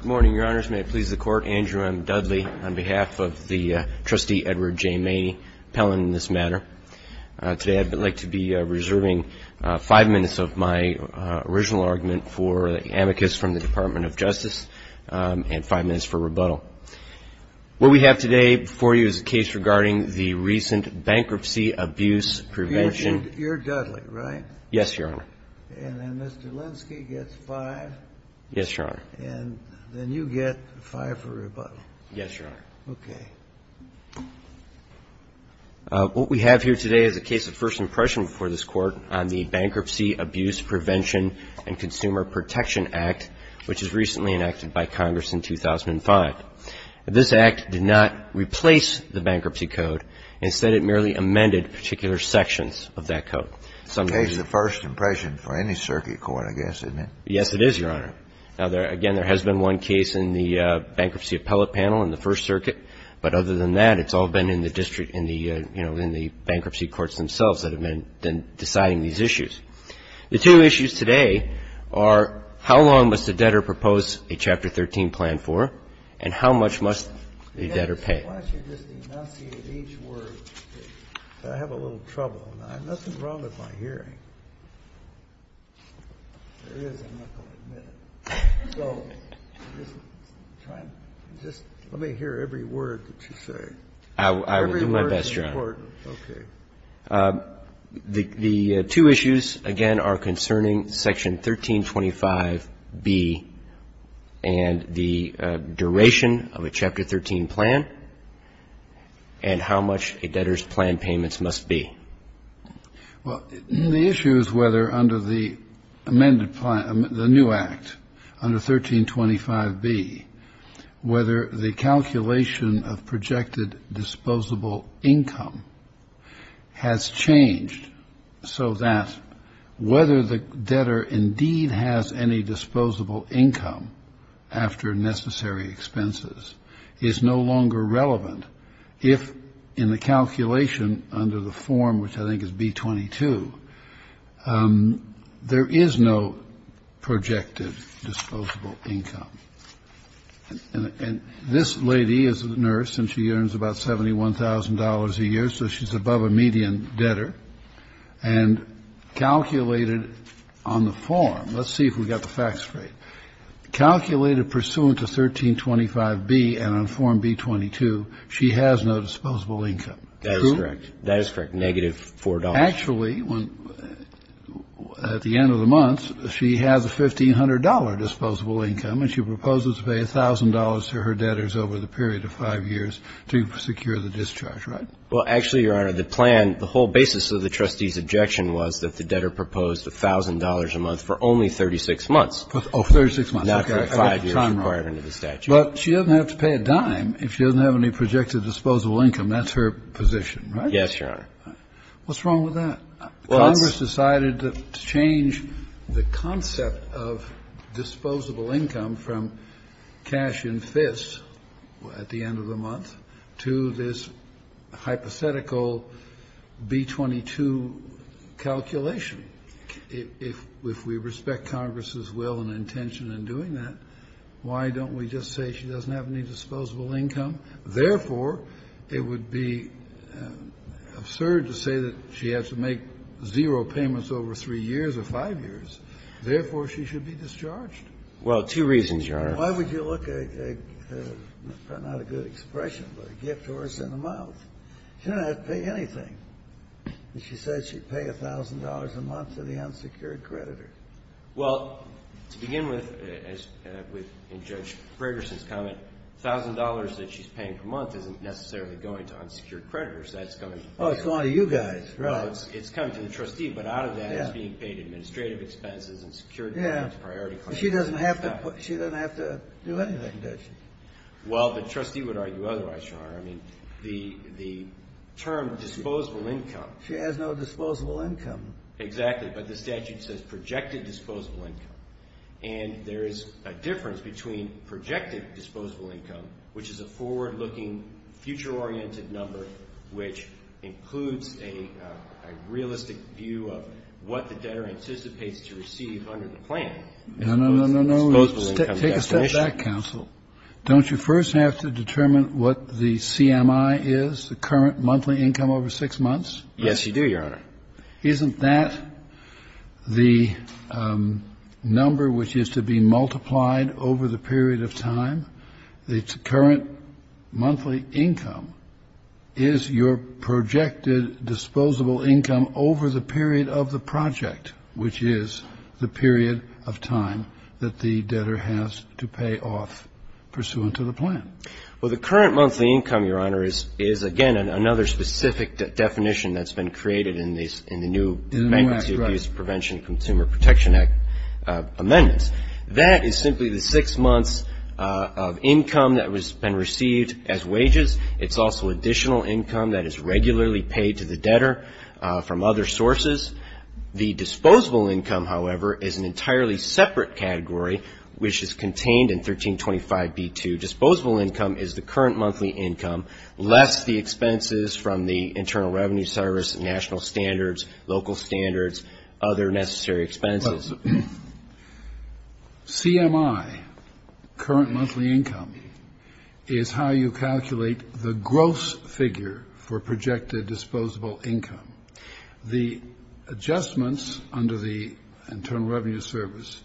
Good morning, Your Honors. May it please the Court, Andrew M. Dudley on behalf of the Trustee Edward J. Maney, appellant in this matter. Today I'd like to be reserving five minutes of my original argument for amicus from the Department of Justice and five minutes for rebuttal. What we have today for you is a case regarding the recent bankruptcy abuse prevention. You're Dudley, right? Yes, Your Honor. And then Mr. Linsky gets five. Yes, Your Honor. And then you get five for rebuttal. Yes, Your Honor. Okay. What we have here today is a case of first impression before this Court on the Bankruptcy Abuse Prevention and Consumer Protection Act, which was recently enacted by Congress in 2005. This act did not replace the bankruptcy code. Instead, it merely amended particular sections of that code. It's a case of first impression for any circuit court, I guess, isn't it? Yes, it is, Your Honor. Now, again, there has been one case in the Bankruptcy Appellate Panel in the First Circuit, but other than that, it's all been in the district in the, you know, in the bankruptcy courts themselves that have been deciding these issues. The two issues today are how long must a debtor propose a Chapter 13 plan for and how much must a debtor pay? Why don't you just enunciate each word? I have a little trouble. Nothing wrong with my hearing. There is, I'm not going to admit it. So just try and just let me hear every word that you say. I will do my best, Your Honor. Every word is important. Okay. The two issues, again, are concerning Section 1325B and the duration of a Chapter 13 plan and how much a debtor's plan payments must be. Well, the issue is whether under the amended plan, the new Act, under 1325B, whether the calculation of projected disposable income has changed so that whether the debtor indeed has any disposable income after necessary expenses is no longer relevant, if in the calculation under the form, which I think is B-22, there is no projected disposable income. And this lady is a nurse and she earns about $71,000 a year, so she's above a median debtor. And calculated on the form, let's see if we've got the facts straight. Calculated pursuant to 1325B and on Form B-22, she has no disposable income. That is correct. Negative $4. Actually, at the end of the month, she has a $1,500 disposable income and she proposes to pay $1,000 to her debtors over the period of five years to secure the discharge, right? Well, actually, Your Honor, the plan, the whole basis of the trustee's objection was that the debtor proposed $1,000 a month for only 36 months. Oh, for 36 months. Okay, I got the time wrong. Not for five years required under the statute. But she doesn't have to pay a dime if she doesn't have any projected disposable income. That's her position, right? Yes, Your Honor. What's wrong with that? Congress decided to change the concept of disposable income from cash in fists at the end of the month to a hypothetical B-22 calculation. If we respect Congress's will and intention in doing that, why don't we just say she doesn't have any disposable income? Therefore, it would be absurd to say that she has to make zero payments over three years or five years. Therefore, she should be discharged. Well, two reasons, Your Honor. Why would you look at, not a good expression, but a gift horse in the mouth? She doesn't have to pay anything. She said she'd pay $1,000 a month to the unsecured creditor. Well, to begin with, in Judge Gregerson's comment, $1,000 that she's paying per month isn't necessarily going to unsecured creditors. That's coming to the trustee. Oh, it's going to you guys, right. It's coming to the trustee, but out of that, it's being paid administrative expenses and secured by his priority claim. She doesn't have to do anything, does she? Well, the trustee would argue otherwise, Your Honor. I mean, the term disposable income. She has no disposable income. Exactly, but the statute says projected disposable income, and there is a difference between projected disposable income, which is a forward-looking, future-oriented number which includes a realistic view of what the debtor anticipates to receive under the plan. No, no, no, no, no. Take a step back, counsel. Don't you first have to determine what the CMI is, the current monthly income over six months? Yes, you do, Your Honor. Isn't that the number which is to be multiplied over the period of time? The current monthly income is your projected disposable income over the period of the project, which is the period of time that the debtor has to pay off pursuant to the plan. Well, the current monthly income, Your Honor, is, again, another specific definition that's been created in the new Magnitsky Abuse Prevention Consumer Protection Act amendments. That is simply the six months of income that has been received as wages. It's also additional income that is regularly paid to the debtor from other sources. The disposable income, however, is an entirely separate category, which is contained in 1325b2. Disposable income is the current monthly income, less the expenses from the Internal Revenue Service, national standards, local standards, other necessary expenses. Well, CMI, current monthly income, is how you calculate the gross figure for projected disposable income. The adjustments under the Internal Revenue Service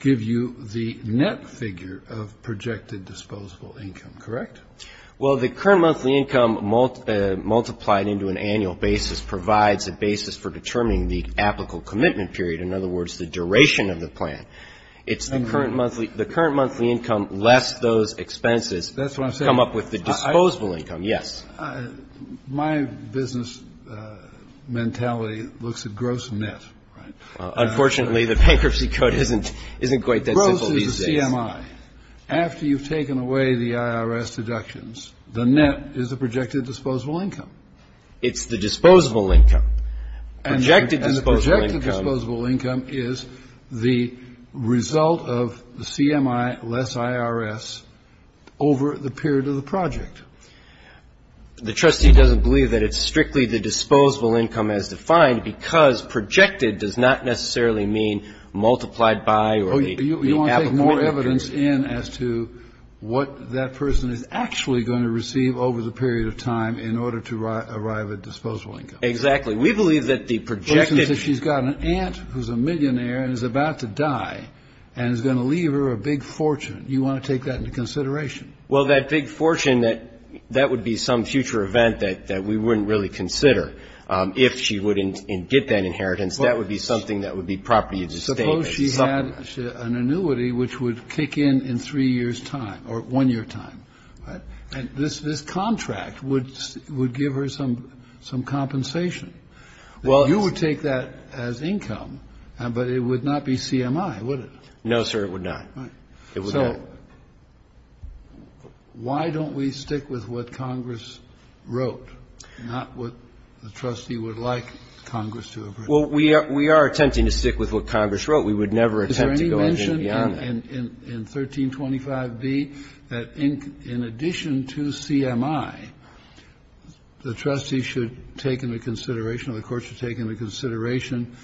give you the net figure of projected disposable income, correct? Well, the current monthly income multiplied into an annual basis provides a basis for determining the applicable commitment period, in other words, the duration of the plan. It's the current monthly income less those expenses come up with the disposable income, yes. My business mentality looks at gross net, right? Unfortunately, the bankruptcy code isn't quite that simple these days. Gross is the CMI. After you've taken away the IRS deductions, the net is the projected disposable income. It's the disposable income. Projected disposable income. And the projected disposable income is the result of the CMI less IRS over the period of the project. The trustee doesn't believe that it's strictly the disposable income as defined because projected does not necessarily mean multiplied by or the applicable commitment period. You want to take more evidence in as to what that person is actually going to receive over the period of time in order to arrive at disposable income. Exactly. We believe that the projected... For instance, if she's got an aunt who's a millionaire and is about to die and is going to leave her a big fortune, you want to take that into consideration. Well, that big fortune, that would be some future event that we wouldn't really consider. If she would get that inheritance, that would be something that would be property of the state. Suppose she had an annuity which would kick in in three years' time or one year' time. This contract would give her some compensation. You would take that as income, but it would not be CMI, would it? No, sir, it would not. It would not. Well, why don't we stick with what Congress wrote, not what the trustee would like Congress to approve? Well, we are attempting to stick with what Congress wrote. We would never attempt to go any beyond that. Is there any mention in 1325B that in addition to CMI, the trustee should take into consideration or the court should take into consideration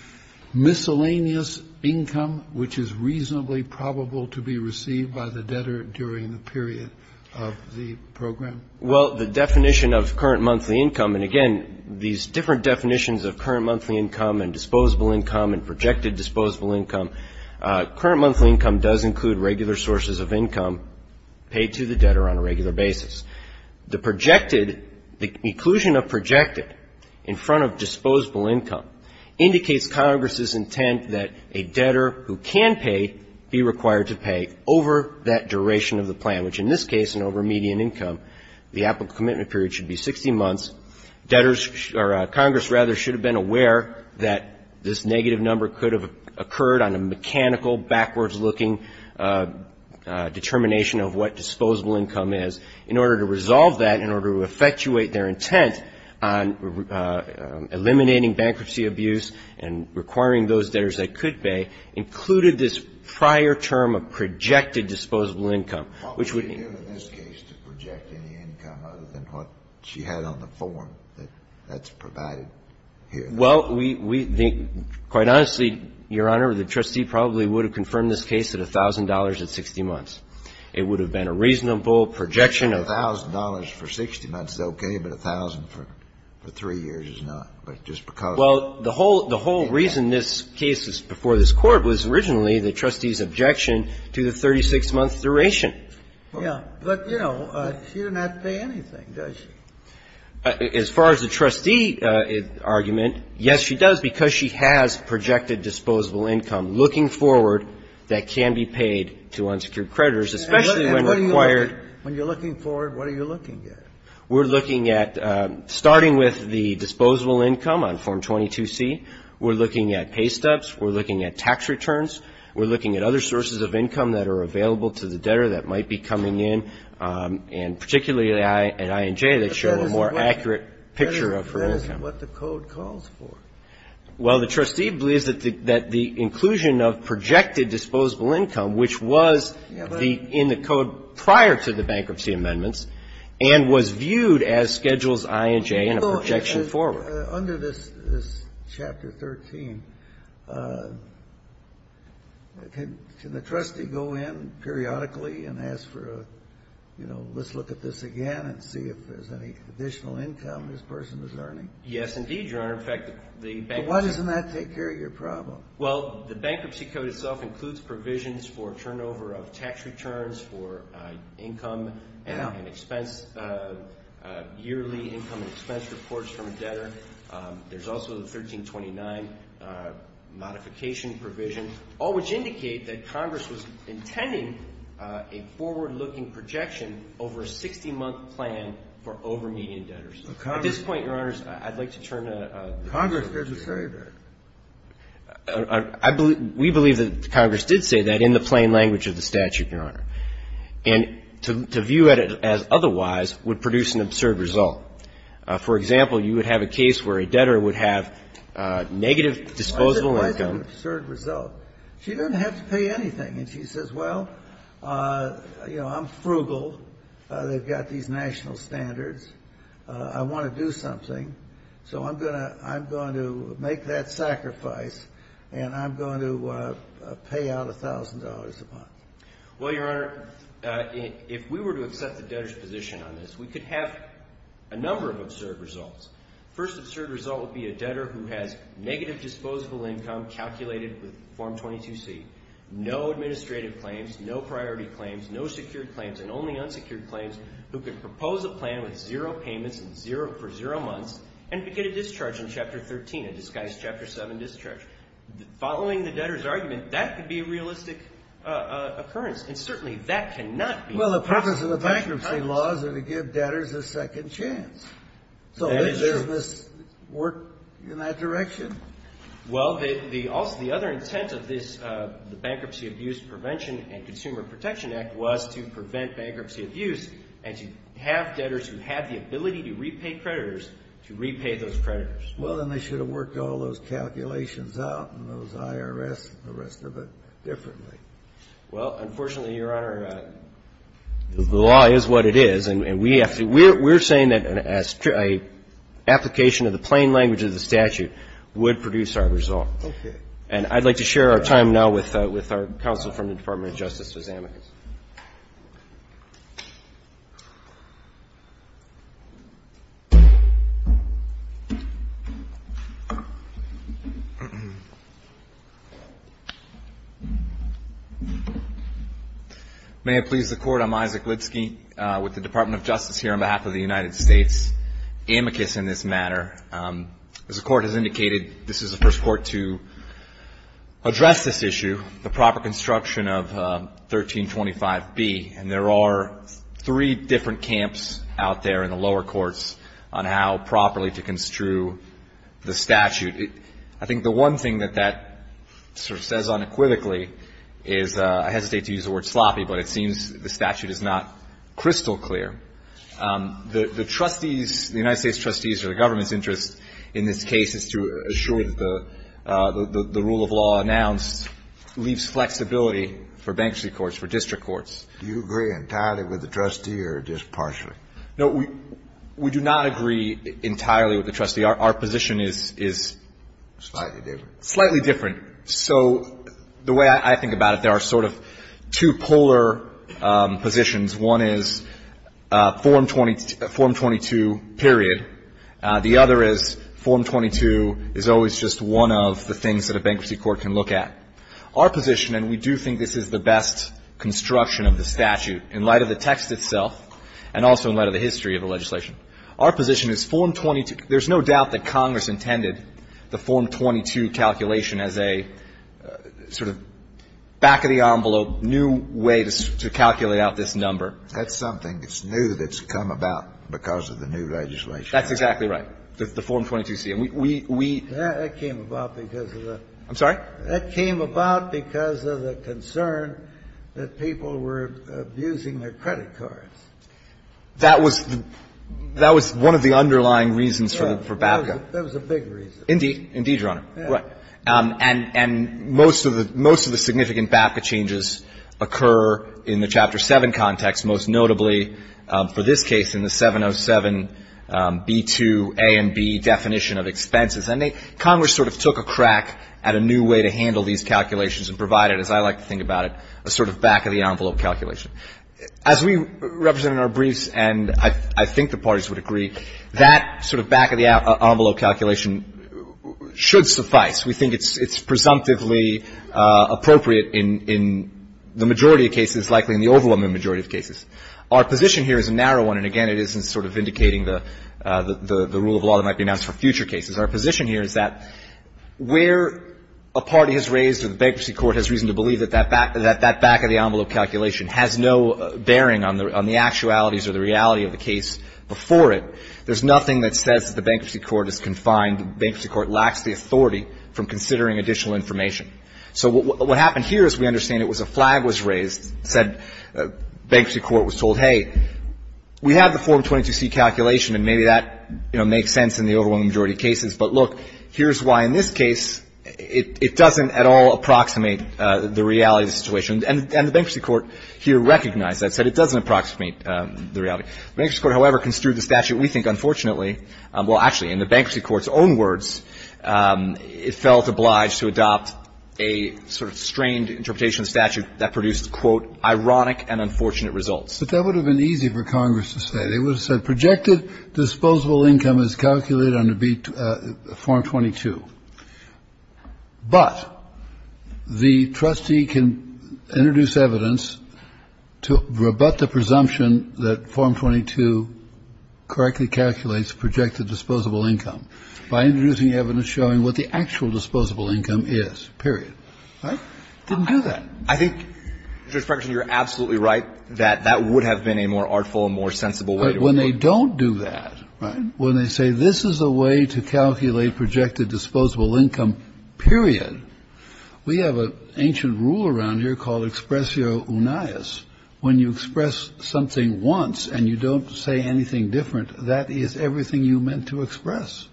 miscellaneous income which is reasonably probable to be received by the debtor during the period of the program? Well, the definition of current monthly income, and again, these different definitions of current monthly income and disposable income and projected disposable income, current monthly income does include regular sources of income paid to the debtor on a regular basis. The projected, the inclusion of projected in front of disposable income indicates Congress's intent that a debtor who can pay be required to pay over that duration of the plan, which in this case and over median income, the applicable commitment period should be 60 months. Congress should have been aware that this negative number could have occurred on a mechanical, backwards-looking determination of what disposable income is. In order to resolve that, in order to effectuate their intent on eliminating bankruptcy abuse and requiring those debtors that could pay, included this prior term of projected disposable income, which would be... What would be given in this case to project any income other than what she had on the form that's provided here? Well, we think, quite honestly, Your Honor, the trustee probably would have confirmed this case at $1,000 at 60 months. It would have been a reasonable projection of... $1,000 for 60 months is okay, but $1,000 for three years is not, but just because... Well, the whole reason this case is before this Court was originally the trustee's objection to the 36-month duration. Yeah. But, you know, she does not pay anything, does she? As far as the trustee argument, yes, she does, because she has projected disposable income. Looking forward, that can be paid to unsecured creditors, especially when required... And when you're looking forward, what are you looking at? We're looking at, starting with the disposable income on Form 22-C, we're looking at pay stubs, we're looking at tax returns, we're looking at other sources of income that are available to the debtor that might be coming in, and particularly at I&J that show a more accurate picture of her income. But that is what the code calls for. Well, the trustee believes that the inclusion of projected disposable income, which was in the code prior to the bankruptcy amendments, and was viewed as Schedules I&J and a projection forward. Under this Chapter 13, can the trustee go in periodically and ask for a, you know, let's look at this again and see if there's any additional income this person is earning? Yes, indeed, Your Honor. In fact, the bankruptcy... But why doesn't that take care of your problem? Well, the bankruptcy code itself includes provisions for turnover of tax returns for income and expense, yearly income and expense reports from a debtor. There's also the 1329 modification provision, all which indicate that Congress was intending a forward-looking projection over a 60-month plan for over-median debtors. At this point, Your Honors, I'd like to turn to... Congress doesn't say that. We believe that Congress did say that in the plain language of the statute, Your Honor. And to view it as otherwise would produce an absurd result. For example, you would have a case where a debtor would have negative disposable income... Why is it an absurd result? She doesn't have to pay anything. And she says, well, you know, I'm frugal. They've got these national standards. I want to do something. So I'm going to make that sacrifice. And I'm going to pay out $1,000 a month. Well, Your Honor, if we were to accept the debtor's position on this, we could have a number of absurd results. First absurd result would be a debtor who has negative disposable income calculated with Form 22C, no administrative claims, no priority claims, no secured claims, and only unsecured claims, who could propose a plan with zero months and get a discharge in Chapter 13, a disguised Chapter 7 discharge. Following the debtor's argument, that could be a realistic occurrence. And certainly that cannot be... Well, the purpose of the bankruptcy laws is to give debtors a second chance. So doesn't this work in that direction? Well, the other intent of the Bankruptcy Abuse Prevention and Consumer Protection Act was to prevent bankruptcy abuse and to have debtors who have the ability to repay creditors to repay those creditors. Well, then they should have worked all those calculations out and those IRS and the rest of it differently. Well, unfortunately, Your Honor, the law is what it is. And we have to... We're saying that an application of the plain language of the statute would produce our result. And I'd like to share our time now with our counsel from the Department of Justice, Ms. Amicus. May it please the Court, I'm Isaac Litsky with the Department of Justice here on behalf of the United States. Amicus in this matter. As the Court has indicated, this is the first Court to address this issue, the proper construction of 1325B. And there are three different camps out there in the lower courts on how properly to construe the statute. I think the one thing that that sort of says unequivocally is, I hesitate to use the word sloppy, but it seems the statute is not crystal clear. The trustees, the United States trustees or the government's interest in this case is to assure that the rule of law announced leaves flexibility for bankruptcy courts, for district courts. Do you agree entirely with the trustee or just partially? No, we do not agree entirely with the trustee. Our position is... Slightly different. Slightly different. So the way I think about it, there are sort of two polar positions. One is Form 22, period. The other is Form 22 is always just one of the things that a bankruptcy court can look at. Our position, and we do think this is the best construction of the statute in light of the text itself and also in light of the history of the legislation. Our position is Form 22. There's no doubt that Congress intended the Form 22 calculation as a sort of back-of-the-envelope new way to calculate out this number. That's something that's new that's come about because of the new legislation. That's exactly right. The Form 22C. That came about because of the... I'm sorry? That came about because of the concern that people were abusing their credit cards. That was one of the underlying reasons for BAPCA. That was a big reason. Indeed, Your Honor. Right. And most of the significant BAPCA changes occur in the Chapter 7 context, most notably for this case in the 707B2A and B definition of expenses. And Congress sort of took a crack at a new way to handle these calculations and provided, as I like to think about it, a sort of back-of-the-envelope calculation. As we represent in our briefs, and I think the parties would agree, that sort of back-of-the-envelope calculation should suffice. We think it's presumptively appropriate in the majority of cases, likely in the overwhelming majority of cases. Our position here is a narrow one, and again, it isn't sort of indicating the rule of law that might be announced for future cases. Our position here is that where a party has raised or the bankruptcy court has reason to believe that that back-of-the-envelope calculation has no bearing on the actualities or the reality of the case before it, there's nothing that says that the bankruptcy court is confined, the bankruptcy court lacks the authority from considering additional information. So what happened here is we understand it was a flag was raised, said bankruptcy court was told, hey, we have the Form 22C calculation, and maybe that, you know, makes sense in the overwhelming majority of cases, but look, here's why in this case it doesn't at all approximate the reality of the situation, and the bankruptcy court here recognized that, said it doesn't approximate the reality. The bankruptcy court, however, construed the statute. We think, unfortunately, well, actually, in the bankruptcy court's own words, it felt obliged to adopt a sort of strained interpretation of the statute that produced, quote, ironic and unfortunate results. But that would have been easy for Congress to say. They would have said projected disposable income is calculated under Form 22. But the trustee can introduce evidence to rebut the presumption that Form 22 correctly calculates projected disposable income by introducing evidence showing what the actual disposable income is, period. Right? Didn't do that. I think, Judge Ferguson, you're absolutely right that that would have been a more artful and more sensible way to approach it. But when they don't do that, right, when they say this is a way to calculate projected disposable income, period, we have an ancient rule around here called expressio unias. When you express something once and you don't say anything different, that is everything you meant to express.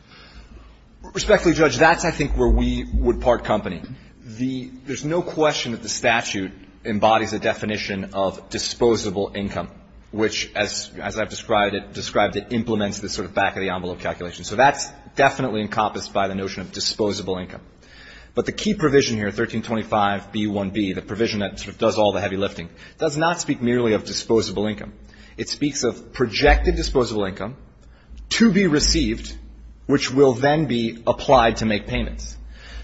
Respectfully, Judge, that's, I think, where we would part company. There's no question that the statute embodies a definition of disposable income, which, as I've described it, implements this sort of back-of-the-envelope calculation. So that's definitely encompassed by the notion of disposable income. But the key provision here, 1325b1b, the provision that sort of does all the heavy lifting, does not speak merely of disposable income. It speaks of projected disposable income to be received, which will then be applied to make payments.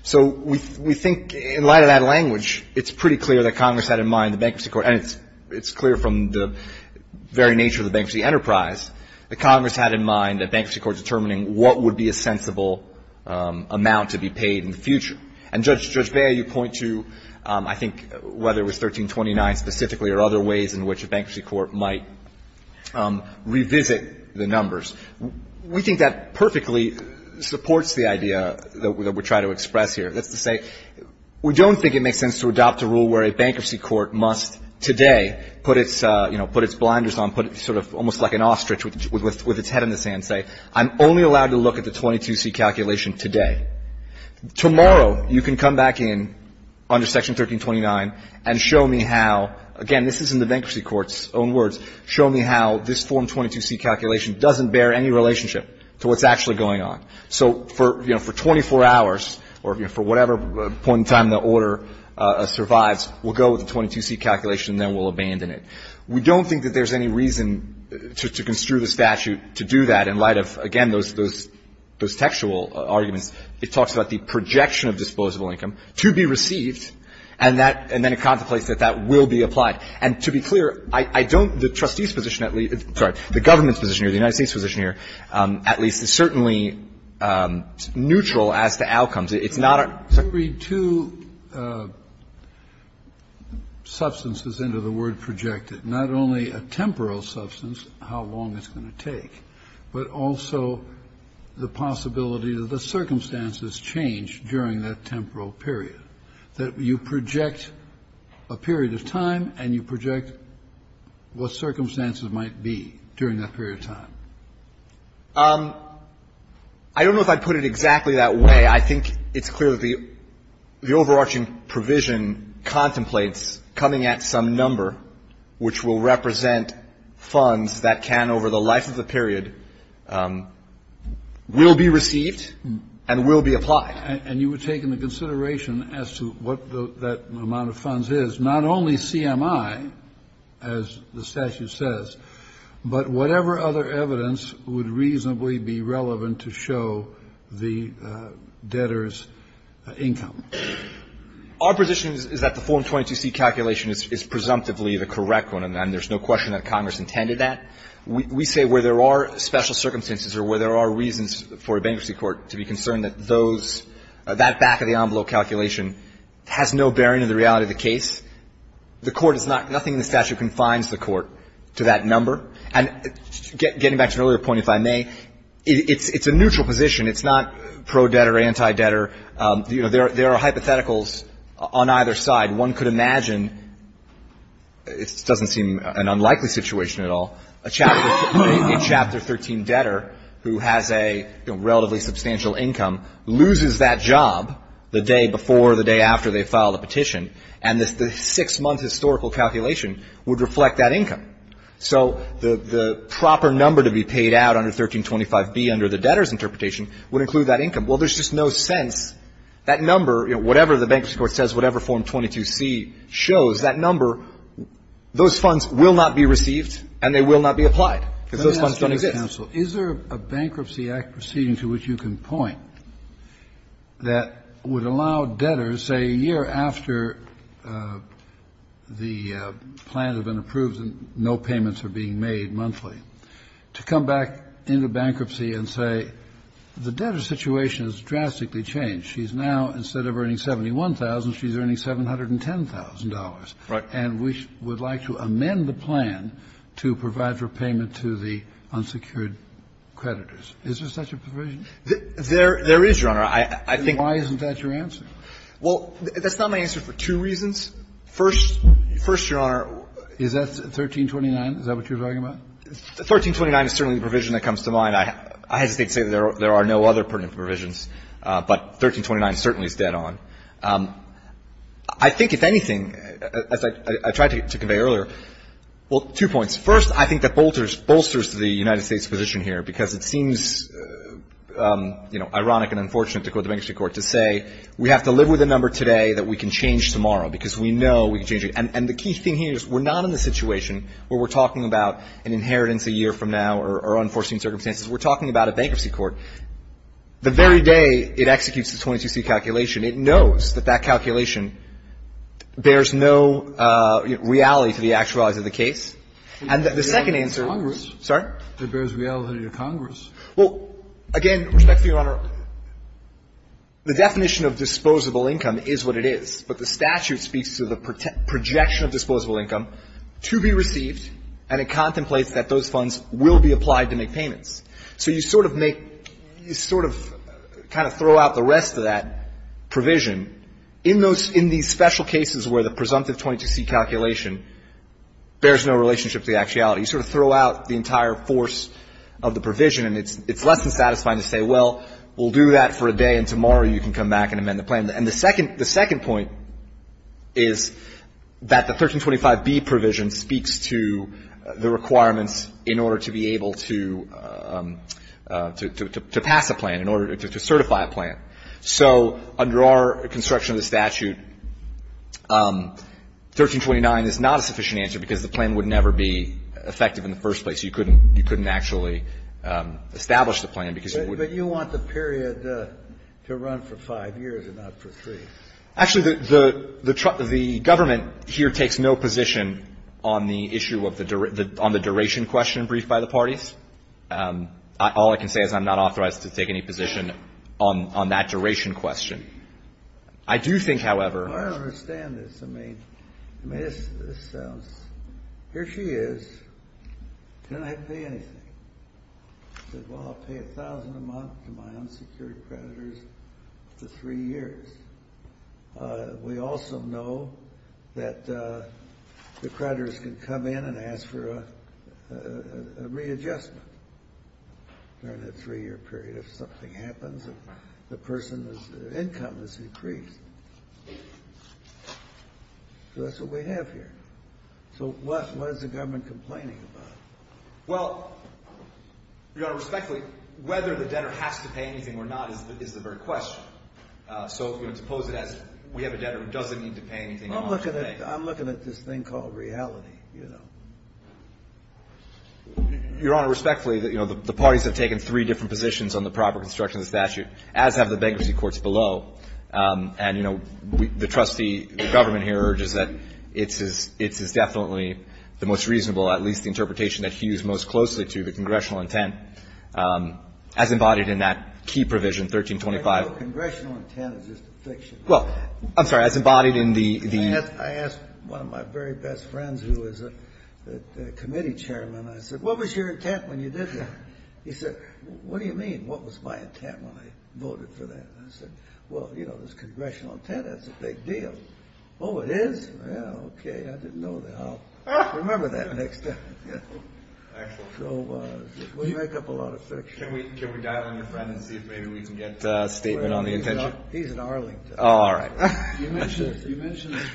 So we think, in light of that language, it's pretty clear that Congress had in mind the Bankruptcy Court, and it's clear from the very nature of the bankruptcy enterprise that Congress had in mind the Bankruptcy Court determining what would be a sensible amount to be paid in the future. And, Judge Bea, you point to, I think, whether it was 1329 specifically or other ways in which a bankruptcy court might revisit the numbers. We think that perfectly supports the idea that we're trying to express here. That's to say, we don't think it makes sense to adopt a rule where a bankruptcy court must today put its, you know, put its blinders on, put sort of almost like an ostrich with its head in the sand and say, I'm only allowed to look at the 22C calculation today. Tomorrow, you can come back in under Section 1329 and show me how, again, this isn't the bankruptcy court's own words, show me how this Form 22C calculation doesn't bear any relationship to what's actually going on. So for, you know, for 24 hours or, you know, for whatever point in time the order survives, we'll go with the 22C calculation and then we'll abandon it. We don't think that there's any reason to construe the statute to do that in light of, again, those textual arguments. It talks about the projection of disposable income to be received, and then it contemplates that that will be applied. And to be clear, I don't the trustee's position at least, sorry, the government's position here, the United States' position here, at least is certainly neutral as to outcomes. It's not a – Kennedy, you read two substances into the word projected, not only a temporal substance, how long it's going to take, but also the possibility that the circumstances change during that temporal period, that you project a period of time and you project what circumstances might be during that period of time. I don't know if I'd put it exactly that way. I think it's clear that the overarching provision contemplates coming at some number which will represent funds that can, over the life of the period, will be received and will be applied. And you were taking the consideration as to what that amount of funds is, not only CMI, as the statute says, but whatever other evidence would reasonably be relevant to show the debtor's income. Our position is that the Form 22C calculation is presumptively the correct one, and there's no question that Congress intended that. We say where there are special circumstances or where there are reasons for a bankruptcy court to be concerned, that those – that back-of-the-envelope calculation has no bearing in the reality of the case. The Court is not – nothing in the statute confines the Court to that number. And getting back to an earlier point, if I may, it's a neutral position. It's not pro-debtor, anti-debtor. You know, there are hypotheticals on either side. One could imagine – this doesn't seem an unlikely situation at all – a Chapter – a Chapter 13 debtor who has a, you know, relatively substantial income loses that job the day before or the day after they file the petition, and the six-month historical calculation would reflect that income. So the proper number to be paid out under 1325B under the debtor's interpretation would include that income. Well, there's just no sense. That number – whatever the bankruptcy court says, whatever Form 22C shows, that number – those funds will not be received and they will not be applied because those funds don't exist. Kennedy. Is there a Bankruptcy Act proceeding to which you can point that would allow debtors, say, a year after the plan had been approved and no payments are being made monthly, to come back into bankruptcy and say, the debtor's situation has drastically changed. She's now, instead of earning 71,000, she's earning $710,000. Right. And we would like to amend the plan to provide for payment to the unsecured creditors. Is there such a provision? There is, Your Honor. I think – Why isn't that your answer? Well, that's not my answer for two reasons. First, Your Honor – Is that what you're talking about? 1329 is certainly the provision that comes to mind. I hesitate to say that there are no other pertinent provisions, but 1329 certainly is dead on. I think, if anything, as I tried to convey earlier – well, two points. First, I think that bolsters the United States' position here because it seems, you know, ironic and unfortunate to quote the Bankruptcy Court to say, we have to live with the number today that we can change tomorrow because we know we can change it. And the key thing here is we're not in the situation where we're talking about an bankruptcy court. The very day it executes the 22C calculation, it knows that that calculation bears no reality to the actuality of the case. And the second answer – It bears reality to Congress. Sorry? It bears reality to Congress. Well, again, respect to Your Honor, the definition of disposable income is what it is. But the statute speaks to the projection of disposable income to be received, and it contemplates that those funds will be applied to make payments. So you sort of make – you sort of kind of throw out the rest of that provision in those – in these special cases where the presumptive 22C calculation bears no relationship to the actuality. You sort of throw out the entire force of the provision, and it's less than satisfying to say, well, we'll do that for a day, and tomorrow you can come back and amend the plan. And the second – the second point is that the 1325B provision speaks to the requirements in order to be able to pass a plan, in order to certify a plan. So under our construction of the statute, 1329 is not a sufficient answer because the plan would never be effective in the first place. You couldn't – you couldn't actually establish the plan because it would – But you want the period to run for five years and not for three. Actually, the – the government here takes no position on the issue of the – on the duration question briefed by the parties. All I can say is I'm not authorized to take any position on that duration question. I do think, however – I don't understand this. I mean – I mean, this – this sounds – here she is, and I didn't have to pay anything. She said, well, I'll pay a thousand a month to my unsecured creditors for three years. We also know that the creditors can come in and ask for a readjustment during that three-year period if something happens, if the person's income is increased. So that's what we have here. So what is the government complaining about? Well, Your Honor, respectfully, whether the debtor has to pay anything or not is the very question. So, you know, to pose it as we have a debtor who doesn't need to pay anything – Well, I'm looking at – I'm looking at this thing called reality, you know. Your Honor, respectfully, you know, the parties have taken three different positions on the proper construction of the statute, as have the bankruptcy courts below. And, you know, the trustee – the government here urges that it's as – it's as definitely the most reasonable, at least the interpretation that he used most closely to, the congressional intent, as embodied in that key provision, 1325. Congressional intent is just a fiction. Well, I'm sorry, as embodied in the – I asked one of my very best friends, who is a committee chairman, I said, what was your intent when you did that? He said, what do you mean? What was my intent when I voted for that? I said, well, you know, there's congressional intent. That's a big deal. Oh, it is? Yeah, okay. I didn't know that. I'll remember that next time. So we make up a lot of fiction. Can we dial in your friend and see if maybe we can get a statement on the intention? He's in Arlington. Oh, all right. You mentioned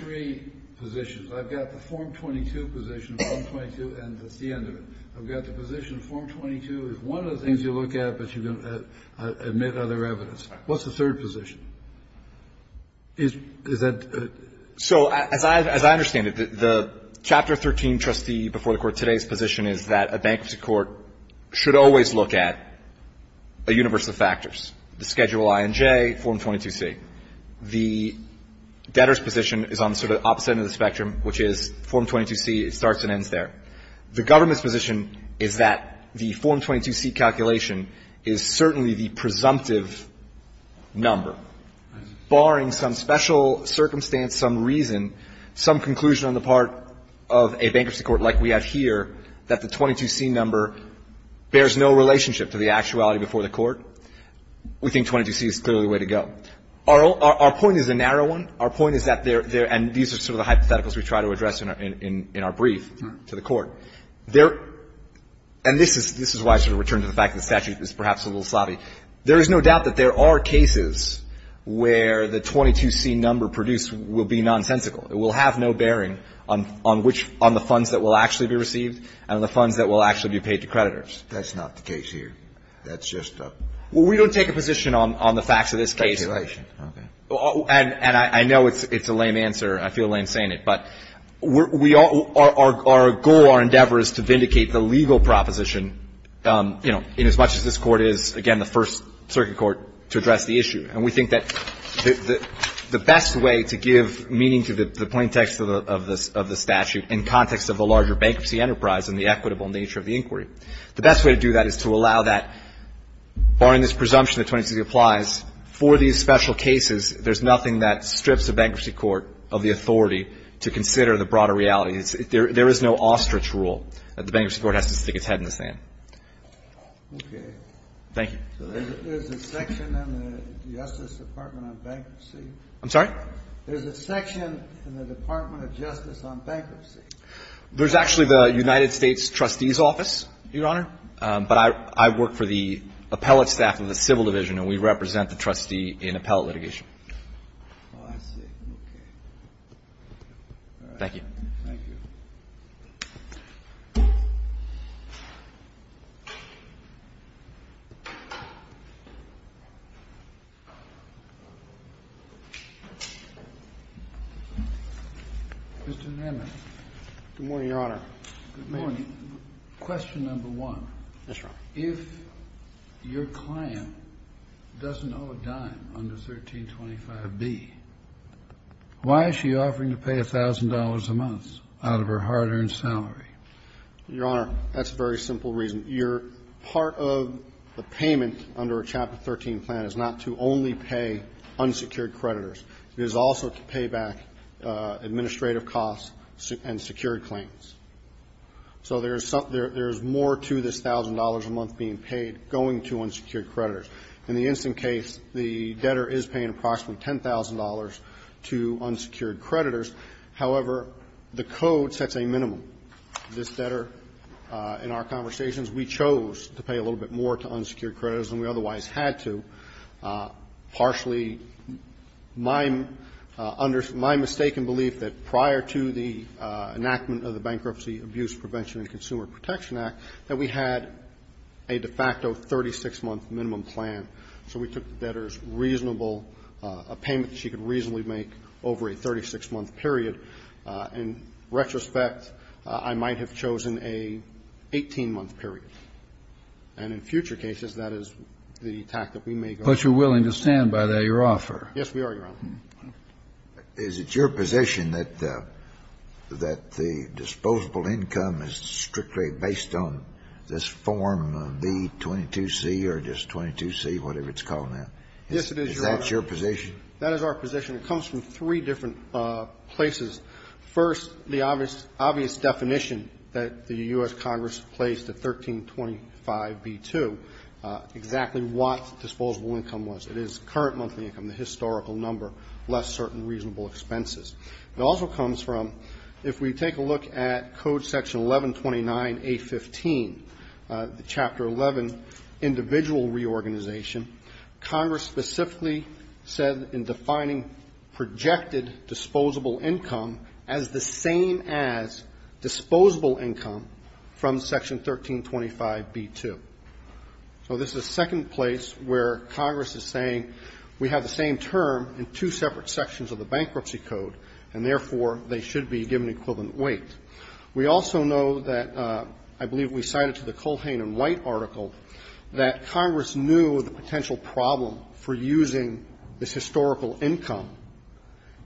three positions. I've got the Form 22 position. Form 22, and that's the end of it. I've got the position Form 22 is one of the things you look at, but you don't admit other evidence. What's the third position? Is that? So as I understand it, the Chapter 13 trustee before the Court today's position is that a bankruptcy court should always look at a universe of factors, the Schedule I and J, Form 22C. The debtor's position is on sort of opposite end of the spectrum, which is Form 22C. It starts and ends there. The government's position is that the Form 22C calculation is certainly the presumptive number, barring some special circumstance, some reason, some conclusion on the part of a bankruptcy court like we have here that the 22C number bears no relationship to the actuality before the Court. We think 22C is clearly the way to go. Our point is a narrow one. Our point is that there — and these are sort of the hypotheticals we try to address in our brief to the Court. There — and this is why I sort of returned to the fact that the statute is perhaps a little sloppy. There is no doubt that there are cases where the 22C number produced will be nonsensical. It will have no bearing on which — on the funds that will actually be received and on the funds that will actually be paid to creditors. Kennedy. That's not the case here. That's just a — Bursch. Well, we don't take a position on the facts of this case. Kennedy. Okay. Bursch. And I know it's a lame answer. I feel lame saying it. But we all — our goal, our endeavor is to vindicate the legal proposition, you know, inasmuch as this Court is, again, the first circuit court to address the issue. And we think that the best way to give meaning to the plaintext of the — of the statute in context of the larger bankruptcy enterprise and the equitable nature of the inquiry, the best way to do that is to allow that, barring this presumption that 22C applies, for these special cases, there's nothing that strips a bankruptcy court of the authority to consider the broader reality. It's — there is no ostrich rule that the bankruptcy court has to stick its head in the sand. Kennedy. Okay. Bursch. Thank you. There's a section in the Justice Department on bankruptcy. I'm sorry? There's a section in the Department of Justice on bankruptcy. There's actually the United States Trustee's Office, Your Honor. But I work for the appellate staff of the Civil Division, and we represent the trustee in appellate litigation. Oh, I see. Okay. Thank you. Thank you. Mr. Nemmit. Good morning, Your Honor. Good morning. Question number one. Yes, Your Honor. If your client doesn't owe a dime under 1325B, why is she offering to pay $1,000 a month out of her hard-earned salary? Your Honor, that's a very simple reason. Your part of the payment under a Chapter 13 plan is not to only pay unsecured creditors. It is also to pay back administrative costs and secured claims. So there is more to this $1,000 a month being paid going to unsecured creditors. In the instant case, the debtor is paying approximately $10,000 to unsecured creditors. However, the code sets a minimum. This debtor, in our conversations, we chose to pay a little bit more to unsecured creditors than we otherwise had to. Partially, my mistaken belief that prior to the enactment of the Bankruptcy, Abuse Prevention, and Consumer Protection Act, that we had a de facto 36-month minimum plan. So we took the debtor's reasonable payment that she could reasonably make over a 36-month period. In retrospect, I might have chosen a 18-month period. And in future cases, that is the tactic we may go with. But you're willing to stand by that, Your Honor? Yes, we are, Your Honor. Is it your position that the disposable income is strictly based on this Form B-22C or just 22C, whatever it's called now? Yes, it is, Your Honor. Is that your position? That is our position. It comes from three different places. First, the obvious definition that the U.S. Congress placed at 1325B-2, exactly what disposable income was. It is current monthly income, the historical number, less certain reasonable expenses. It also comes from, if we take a look at Code Section 1129A-15, Chapter 11, Individual Reorganization, Congress specifically said in defining projected disposable income as the same as disposable income from Section 1325B-2. So this is a second place where Congress is saying we have the same term in two separate sections of the Bankruptcy Code, and therefore, they should be given equivalent weight. We also know that, I believe we cited to the Culhane and White article, that Congress knew the potential problem for using this historical income,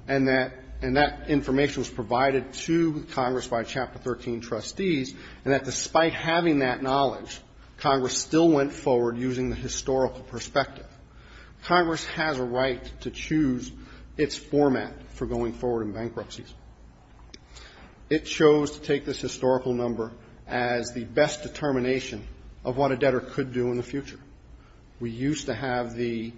and that information was provided to Congress by Chapter 13 trustees, and that despite having that knowledge, Congress still went forward using the historical perspective. Congress has a right to choose its format for going forward in bankruptcies. It chose to take this historical number as the best determination of what a debtor could do in the future. We used to have the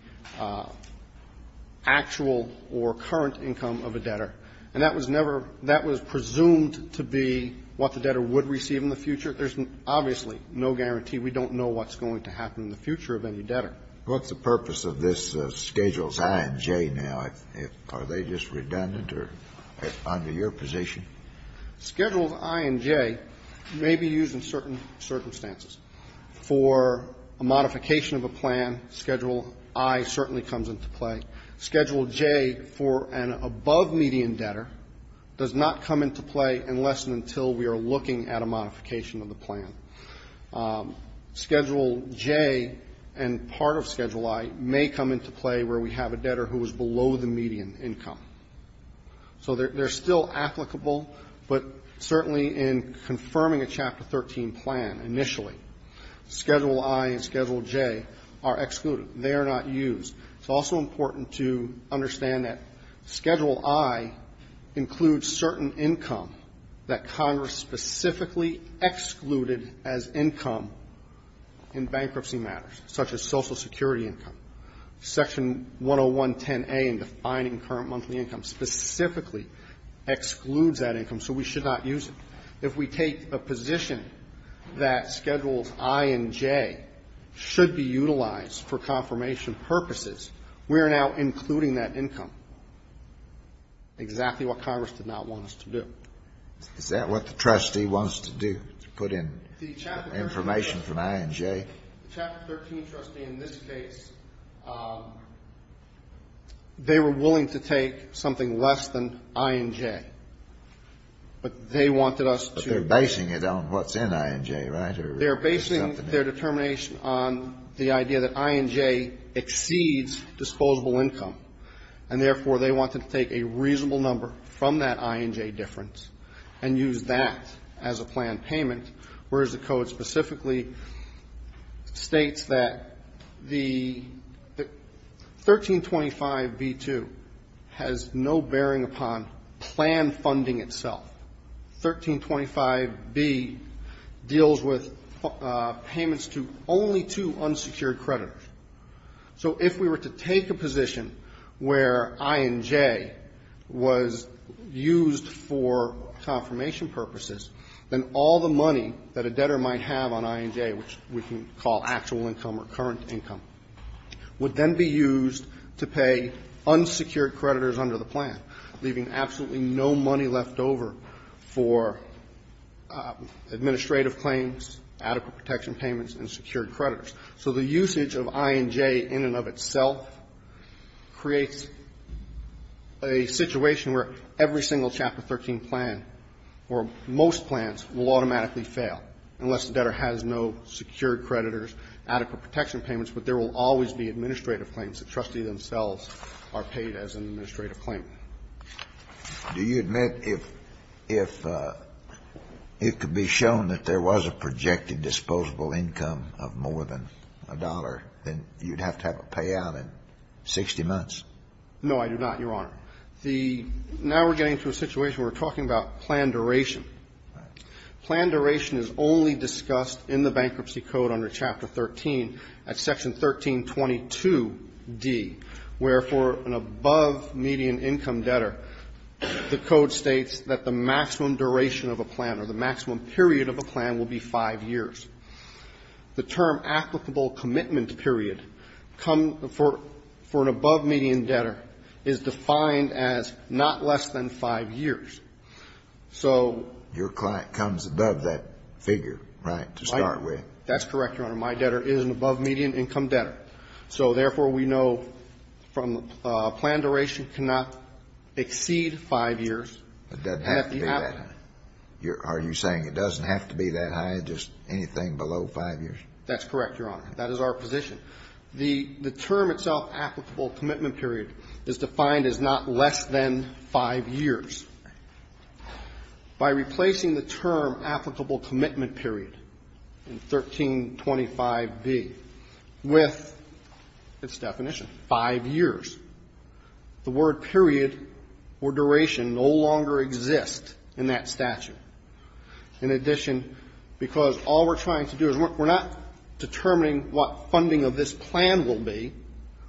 actual or current income of a debtor, and that was never – that was presumed to be what the debtor would receive in the future. There's obviously no guarantee. We don't know what's going to happen in the future of any debtor. Kennedy. What's the purpose of this Schedules I and J now? Are they just redundant or under your position? Schedules I and J may be used in certain circumstances. For a modification of a plan, Schedule I certainly comes into play. Schedule J, for an above-median debtor, does not come into play unless and until we are looking at a modification of the plan. Schedule J and part of Schedule I may come into play where we have a debtor who is below the median income. So they're still applicable, but certainly in confirming a Chapter 13 plan, initially, Schedule I and Schedule J are excluded. They are not used. It's also important to understand that Schedule I includes certain income that Congress specifically excluded as income in bankruptcy matters, such as Social Security income. Section 10110A in defining current monthly income specifically excludes that income, so we should not use it. If we take a position that Schedules I and J should be utilized for confirmation purposes, we are now including that income, exactly what Congress did not want us to do. Is that what the trustee wants to do, to put in information from I and J? The Chapter 13 trustee, in this case, they were willing to take something less than I and J, but they wanted us to… But they're basing it on what's in I and J, right? They're basing their determination on the idea that I and J exceeds disposable income, and therefore, they wanted to take a reasonable number from that I and J difference and use that as a planned payment, whereas the code specifically states that the 1325B2 has no bearing upon plan funding itself. 1325B deals with payments to only two unsecured creditors. So if we were to take a position where I and J was used for confirmation purposes, then all the money that a debtor might have on I and J, which we can call actual income or current income, would then be used to pay unsecured creditors under the plan, leaving absolutely no money left over for administrative claims, adequate protection payments, and secured creditors. So the usage of I and J in and of itself creates a situation where every single Chapter 13 plan, or most plans, will automatically fail, unless the debtor has no secured creditors, adequate protection payments, but there will always be administrative claims that trustees themselves are paid as an administrative claim. Do you admit if it could be shown that there was a projected disposable income of more than a dollar, then you'd have to have a payout in 60 months? No, I do not, Your Honor. Now we're getting to a situation where we're talking about plan duration. Plan duration is only discussed in the Bankruptcy Code under Chapter 13 at Section 1322D, where for an above-median income debtor, the code states that the maximum duration of a plan or the maximum period of a plan will be 5 years. The term applicable commitment period for an above-median debtor is defined as not less than 5 years. So Your client comes above that figure, right, to start with. That's correct, Your Honor. My debtor is an above-median income debtor. So therefore, we know from the plan duration cannot exceed 5 years. It doesn't have to be that high. Are you saying it doesn't have to be that high? Just anything below 5 years? That's correct, Your Honor. That is our position. The term itself, applicable commitment period, is defined as not less than 5 years. By replacing the term applicable commitment period in 1325B with its definition, 5 years, the word period or duration no longer exists in that statute. In addition, because all we're trying to do is we're not determining what funding of this plan will be.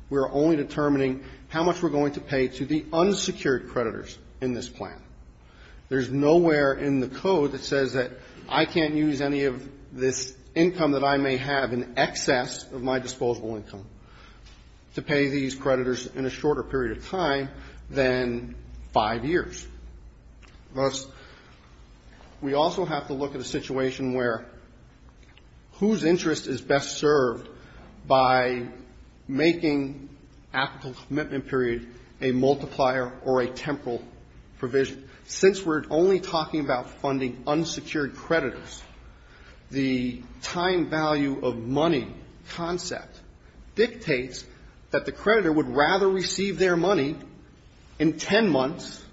We're only determining how much we're going to pay to the unsecured creditors in this plan. There's nowhere in the code that says that I can't use any of this income that I may have in excess of my disposable income to pay these creditors in a shorter period of time than 5 years. Thus, we also have to look at a situation where whose interest is best served by making applicable commitment period a multiplier or a temporal provision. Since we're only talking about funding unsecured creditors, the time value of money concept dictates that the creditor would rather receive their money in 10 months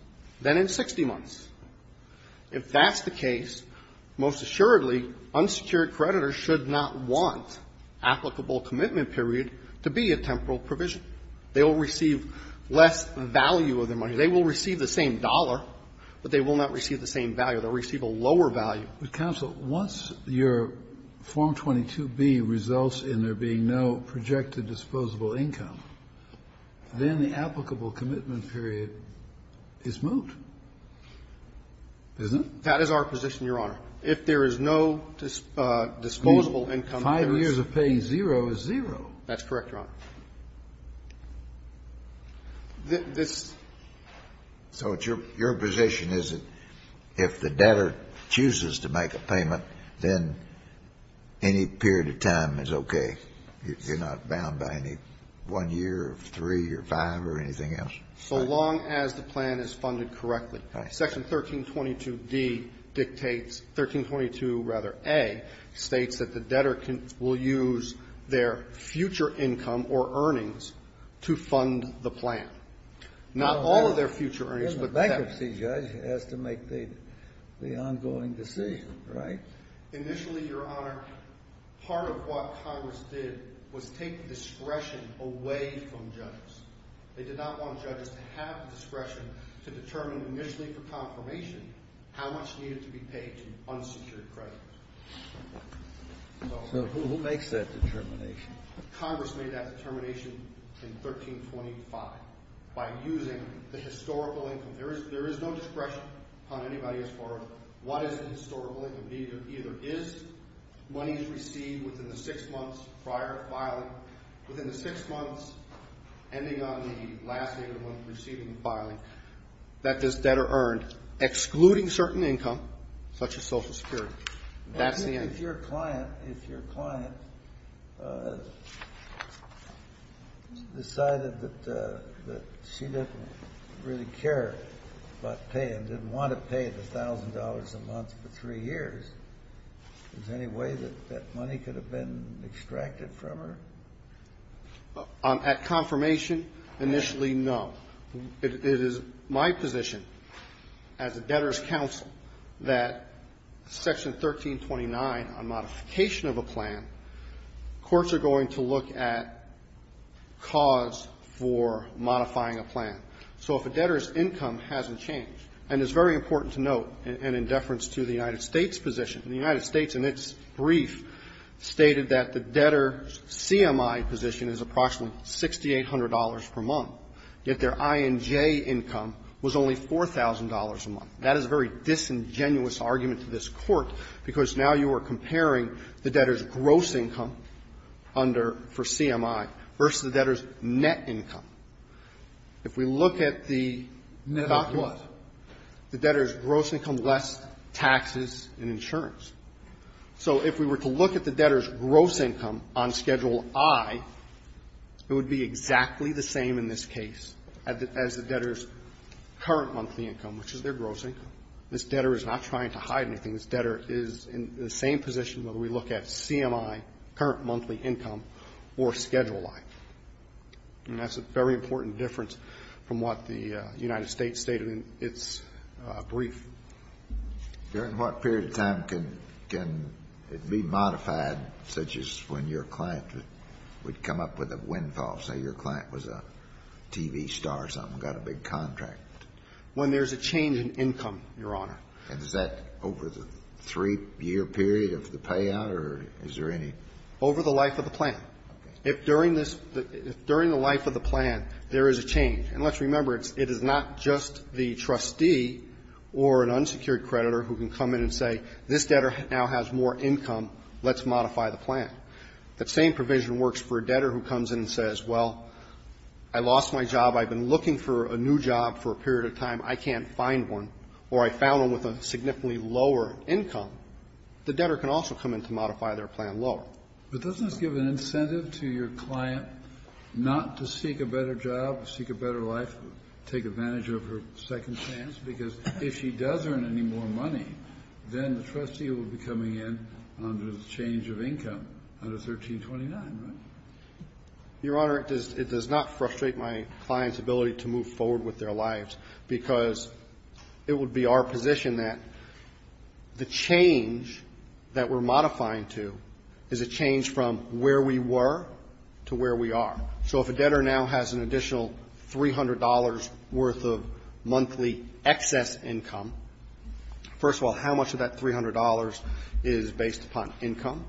than in 60 months. If that's the case, most assuredly, unsecured creditors should not want applicable commitment period to be a temporal provision. They will receive less value of their money. They will receive the same dollar, but they will not receive the same value. They'll receive a lower value. Kennedy. But, counsel, once your Form 22B results in there being no projected disposable income, then the applicable commitment period is moot, isn't it? That is our position, Your Honor. If there is no disposable income, there is no commitment period. 5 years of paying zero is zero. That's correct, Your Honor. This so it's your position is that if the debtor chooses to make a payment, then any period of time is okay. You're not bound by any 1 year, 3, or 5, or anything else? So long as the plan is funded correctly. Section 1322D dictates, 1322 rather A, states that the debtor will use their future income or earnings to fund the plan. Not all of their future earnings. But the bankruptcy judge has to make the ongoing decision, right? Initially, Your Honor, part of what Congress did was take discretion away from judges. They did not want judges to have discretion to determine initially for confirmation how much needed to be paid in unsecured credit. So who makes that determination? Congress made that determination in 1325 by using the historical income. There is no discretion on anybody as far as what is the historical income. Either is money received within the 6 months prior to filing, within the 6 months ending on the last day of the month of receiving the filing, that this debtor earned, excluding certain income, such as Social Security. That's the end. If your client decided that she didn't really care about paying, didn't want to pay the $1,000 a month for 3 years, is there any way that that money could have been extracted from her? At confirmation, initially, no. It is my position as a debtor's counsel that Section 1329 on modification of a plan, courts are going to look at cause for modifying a plan. So if a debtor's income hasn't changed, and it's very important to note, and in deference to the United States position, the United States in its brief stated that the debtor's CMI position is approximately $6,800 per month, yet their I&J income was only $4,000 a month. That is a very disingenuous argument to this Court, because now you are comparing the debtor's gross income under for CMI versus the debtor's net income. If we look at the document, the debtor's gross income less taxes and insurance. So if we were to look at the debtor's gross income on Schedule I, it would be exactly the same in this case as the debtor's current monthly income, which is their gross income. This debtor is not trying to hide anything. This debtor is in the same position when we look at CMI, current monthly income, or Schedule I. And that's a very important difference from what the United States stated in its brief. During what period of time can it be modified, such as when your client would come up with a windfall? Say your client was a TV star or something, got a big contract. When there's a change in income, Your Honor. And is that over the three-year period of the payout, or is there any? Over the life of the plan. If during the life of the plan, there is a change. And let's remember, it is not just the trustee or an unsecured creditor who can come in and say, this debtor now has more income. Let's modify the plan. The same provision works for a debtor who comes in and says, well, I lost my job. I've been looking for a new job for a period of time. I can't find one. Or I found one with a significantly lower income. The debtor can also come in to modify their plan lower. But doesn't this give an incentive to your client not to seek a better job, seek a better life, take advantage of her second chance? Because if she does earn any more money, then the trustee will be coming in under the change of income under 1329, right? Your Honor, it does not frustrate my client's ability to move forward with their lives. Because it would be our position that the change that we're modifying to is a change from where we were to where we are. So if a debtor now has an additional $300 worth of monthly excess income, first of all, how much of that $300 is based upon income?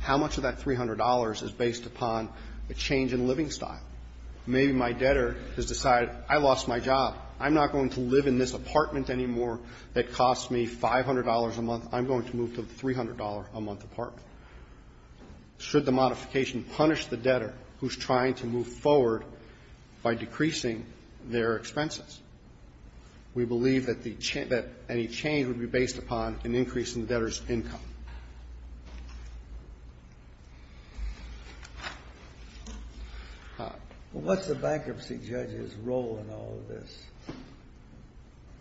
How much of that $300 is based upon a change in living style? Maybe my debtor has decided, I lost my job. I'm not going to live in this apartment anymore that cost me $500 a month. I'm going to move to the $300 a month apartment. Should the modification punish the debtor who's trying to move forward by decreasing their expenses? We believe that any change would be based upon an increase in the debtor's income. Well, what's the bankruptcy judge's role in all of this? The bankruptcy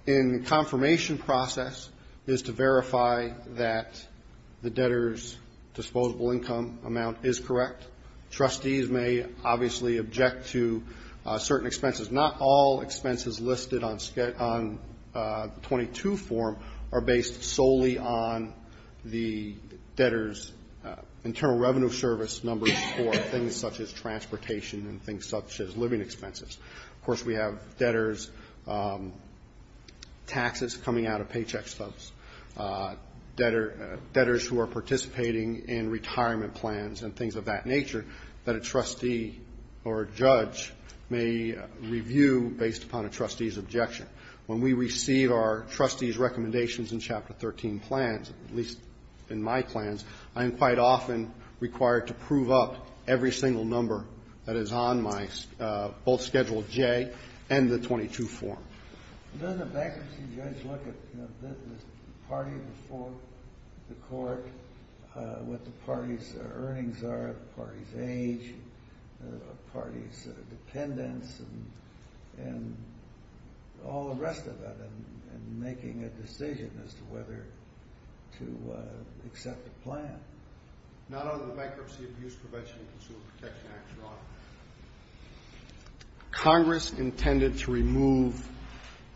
judge's role in the confirmation process is to verify that the debtor's disposable income amount is correct. Trustees may obviously object to certain expenses. Not all expenses listed on the 22 form are based solely on the debtor's internal revenue service numbers for things such as transportation and things such as living expenses. Of course, we have debtors' taxes coming out of paycheck stubs, debtors who are participating in retirement plans and things of that nature that a trustee or a judge may review based upon a trustee's objection. When we receive our trustees' recommendations in Chapter 13 plans, at least in my plans, I am quite often required to prove up every single number that is on both Schedule J and the 22 form. Does the bankruptcy judge look at the party before the court, what the party's earnings are, the party's age, the party's dependence, and all the rest of it and making a decision as to whether to accept the plan? Not under the Bankruptcy Abuse Prevention and Consumer Protection Act, Your Honor. Congress intended to remove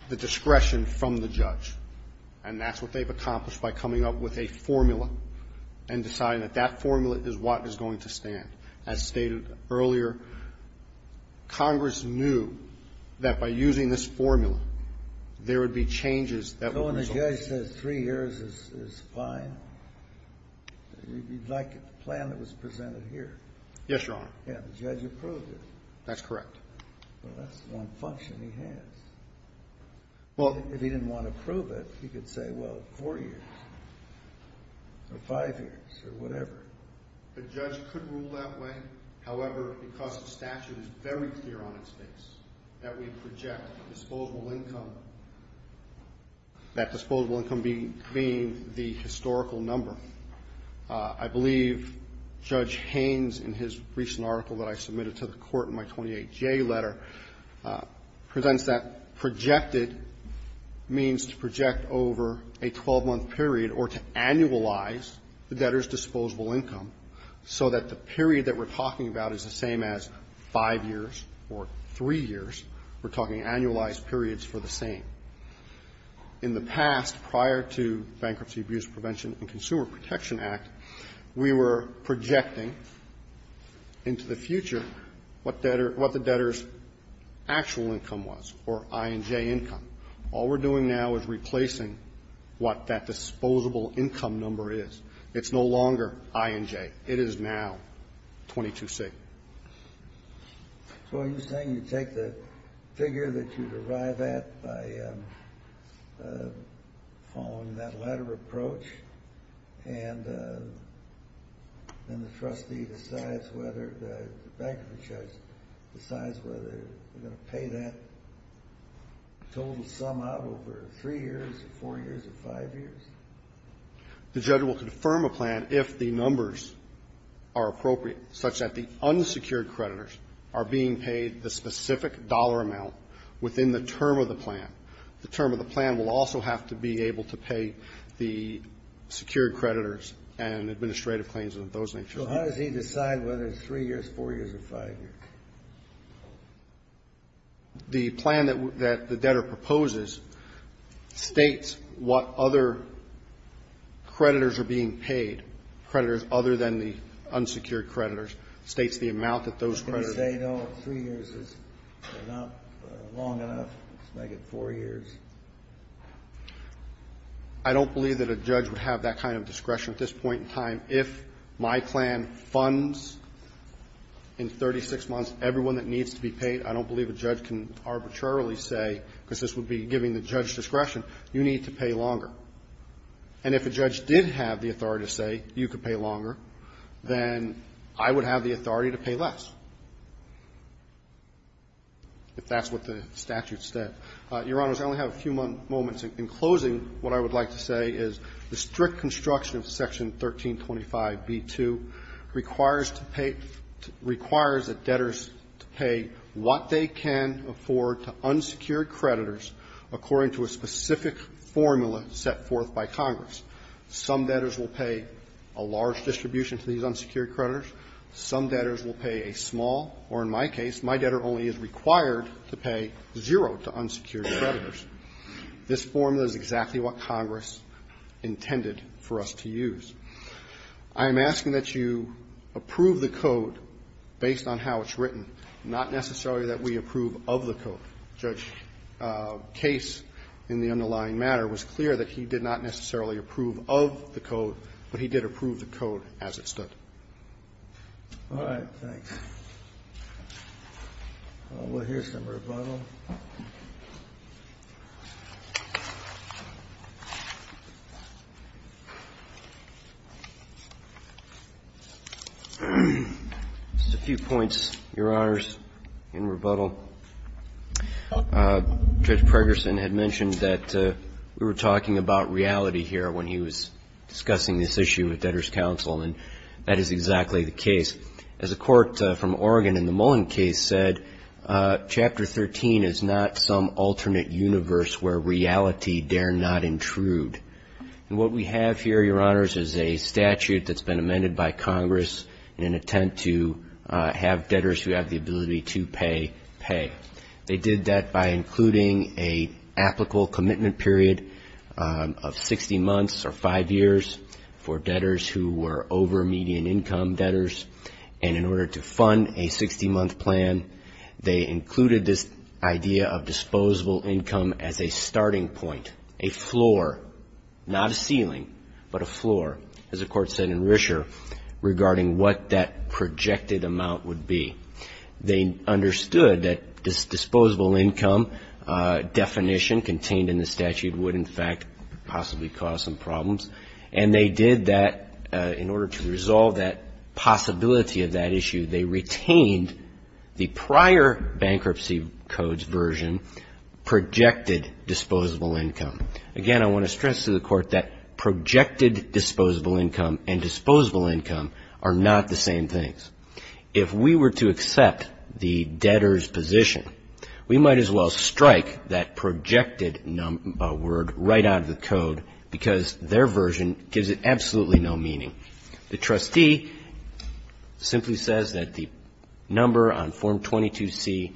the discretion from the judge, and that's what they've accomplished by coming up with a formula and deciding that that formula is what is going to stand. As stated earlier, Congress knew that by using this formula, there would be changes that would result. So when the judge says three years is fine, you'd like a plan that was presented here? Yes, Your Honor. Yeah, the judge approved it. That's correct. Well, that's one function he has. Well, if he didn't want to prove it, he could say, well, four years or five years or whatever. The judge could rule that way. However, because the statute is very clear on its face that we project disposable income, that disposable income being the historical number. I believe Judge Haynes, in his recent article that I submitted to the court in my 28J letter, presents that projected means to project over a 12-month period or to annualize the debtor's disposable income so that the period that we're talking about is the same as five years or three years. We're talking annualized periods for the same. In the past, prior to Bankruptcy Abuse Prevention and Consumer Protection Act, we were projecting into the future what the debtor's actual income was, or I&J income. All we're doing now is replacing what that disposable income number is. It's no longer I&J. It is now 22C. So are you saying you take the figure that you derive at by following that latter approach, and then the trustee decides whether, the bankruptcy judge decides whether they're going to pay that total sum out over three years or four years or five years? The judge will confirm a plan if the numbers are appropriate, such that the unsecured creditors are being paid the specific dollar amount within the term of the plan. The term of the plan will also have to be able to pay the secured creditors and administrative claims and of those natures. So how does he decide whether it's three years, four years, or five years? The plan that the debtor proposes states what other creditors are being paid, creditors other than the unsecured creditors, states the amount that those creditors Can you say, no, three years is not long enough, let's make it four years? I don't believe that a judge would have that kind of discretion at this point in time If my plan funds in 36 months everyone that needs to be paid, I don't believe a judge can arbitrarily say, because this would be giving the judge discretion, you need to pay longer. And if a judge did have the authority to say you could pay longer, then I would have the authority to pay less, if that's what the statute said. Your Honors, I only have a few moments. In closing, what I would like to say is the strict construction of Section 1325b2 requires to pay, requires the debtors to pay what they can afford to unsecured creditors according to a specific formula set forth by Congress. Some debtors will pay a large distribution to these unsecured creditors. Some debtors will pay a small, or in my case, my debtor only is required to pay zero to unsecured creditors. This formula is exactly what Congress intended for us to use. I'm asking that you approve the code based on how it's written, not necessarily that we approve of the code. Judge Case, in the underlying matter, was clear that he did not necessarily approve of the code, but he did approve the code as it stood. All right, thanks. We'll hear some rebuttal. Just a few points, Your Honors, in rebuttal. Judge Pregerson had mentioned that we were talking about reality here when he was discussing this issue with debtors' counsel, and that is exactly the case. As a court from Oregon in the Mullen case said, Chapter 13 is not some alternate universe where reality dare not intrude. And what we have here, Your Honors, is a statute that's been amended by Congress in an attempt to have debtors who have the ability to pay, pay. They did that by including an applicable commitment period of 60 months or five years for debtors who were over-median income debtors. And in order to fund a 60-month plan, they included this idea of disposable income as a starting point, a floor, not a ceiling, but a floor, as the Court said in Risher, regarding what that projected amount would be. They understood that this disposable income definition contained in the statute would, in fact, possibly cause some problems, and they did that in order to resolve that possibility of that issue, they retained the prior bankruptcy code's version, projected disposable income. Again, I want to stress to the Court that projected disposable income and disposable income are not the same things. If we were to accept the debtor's position, we might as well strike that word right out of the code, because their version gives it absolutely no meaning. The trustee simply says that the number on Form 22C,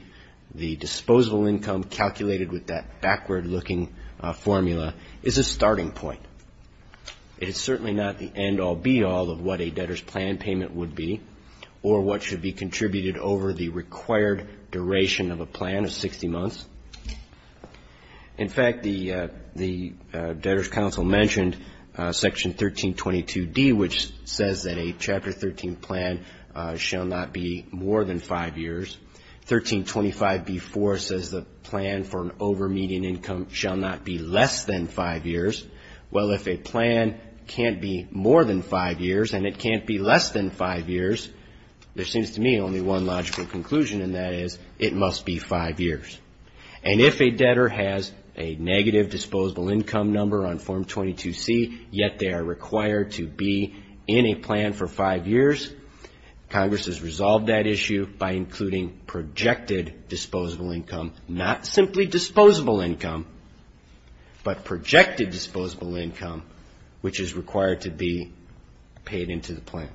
the disposable income calculated with that backward-looking formula is a starting point. It is certainly not the end-all, be-all of what a debtor's plan payment would be or what should be contributed over the required duration of a plan of 60 months. In fact, the Debtor's Council mentioned Section 1322D, which says that a Chapter 13 plan shall not be more than five years. 1325B.4 says the plan for an over-median income shall not be less than five years. Well, if a plan can't be more than five years and it can't be less than five years, there seems to me only one logical conclusion, and that is it must be five years. And if a debtor has a negative disposable income number on Form 22C, yet they are required to be in a plan for five years, Congress has resolved that issue by including projected disposable income, not simply disposable income, but projected disposable income, which is required to be paid into the plan.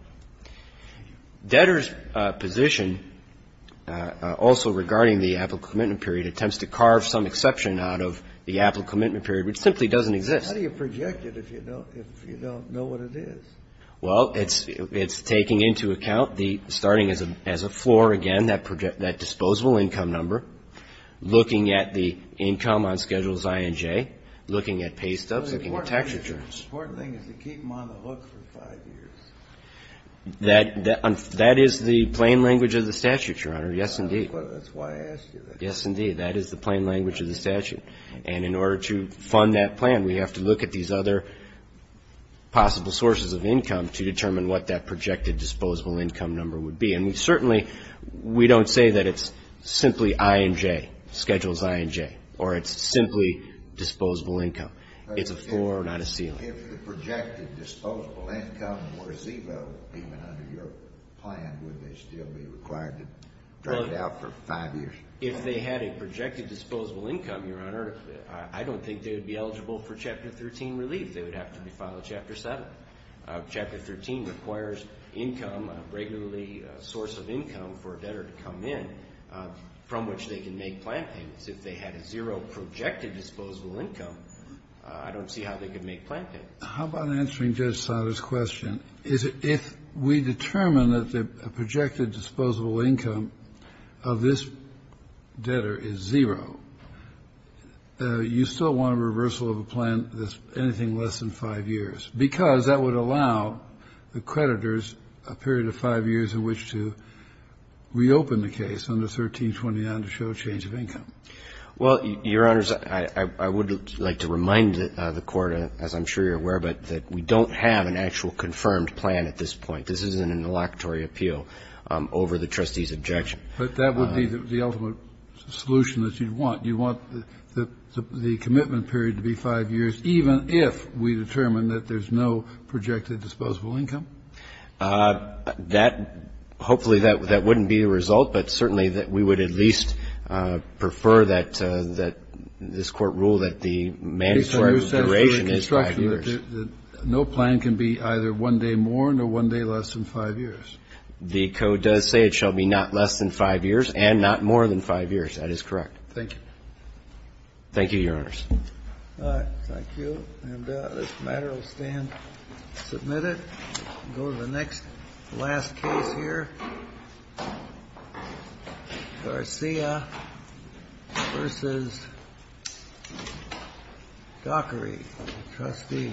Debtor's position also regarding the applicable commitment period attempts to carve some exception out of the applicable commitment period, which simply doesn't exist. How do you project it if you don't know what it is? Well, it's taking into account the starting as a floor, again, that disposable income number, looking at the income on Schedules I and J, looking at pay stubs, looking at tax returns. The important thing is to keep them on the look for five years. That is the plain language of the statute, Your Honor. Yes, indeed. That's why I asked you that. Yes, indeed. That is the plain language of the statute. And in order to fund that plan, we have to look at these other possible sources of income to determine what that projected disposable income number would be. And we certainly, we don't say that it's simply I and J, Schedules I and J, or it's simply disposable income. It's a floor, not a ceiling. If the projected disposable income were zero, even under your plan, would they still be required to drag it out for five years? If they had a projected disposable income, Your Honor, I don't think they would be eligible for Chapter 13 relief. They would have to be filed Chapter 7. Chapter 13 requires income, a regular source of income for a debtor to come in, from which they can make plan payments. If they had a zero projected disposable income, I don't see how they could make plan payments. How about answering Judge Sotomayor's question? If we determine that the projected disposable income of this debtor is zero, you still want a reversal of a plan that's anything less than five years, because that would allow the creditors a period of five years in which to reopen the case under 1329 to show a change of income. Well, Your Honors, I would like to remind the Court, as I'm sure you're aware, that we don't have an actual confirmed plan at this point. This isn't an electory appeal over the trustee's objection. But that would be the ultimate solution that you'd want. You want the commitment period to be five years, even if we determine that there's no projected disposable income? That — hopefully that wouldn't be the result, but certainly that we would at least prefer that this Court rule that the mandatory duration is five years. No plan can be either one day more or one day less than five years. The Code does say it shall be not less than five years and not more than five years. That is correct. Thank you. Thank you, Your Honors. All right. Thank you. And this matter will stand submitted. We'll go to the next, last case here. Garcia v. Dockery, trustee.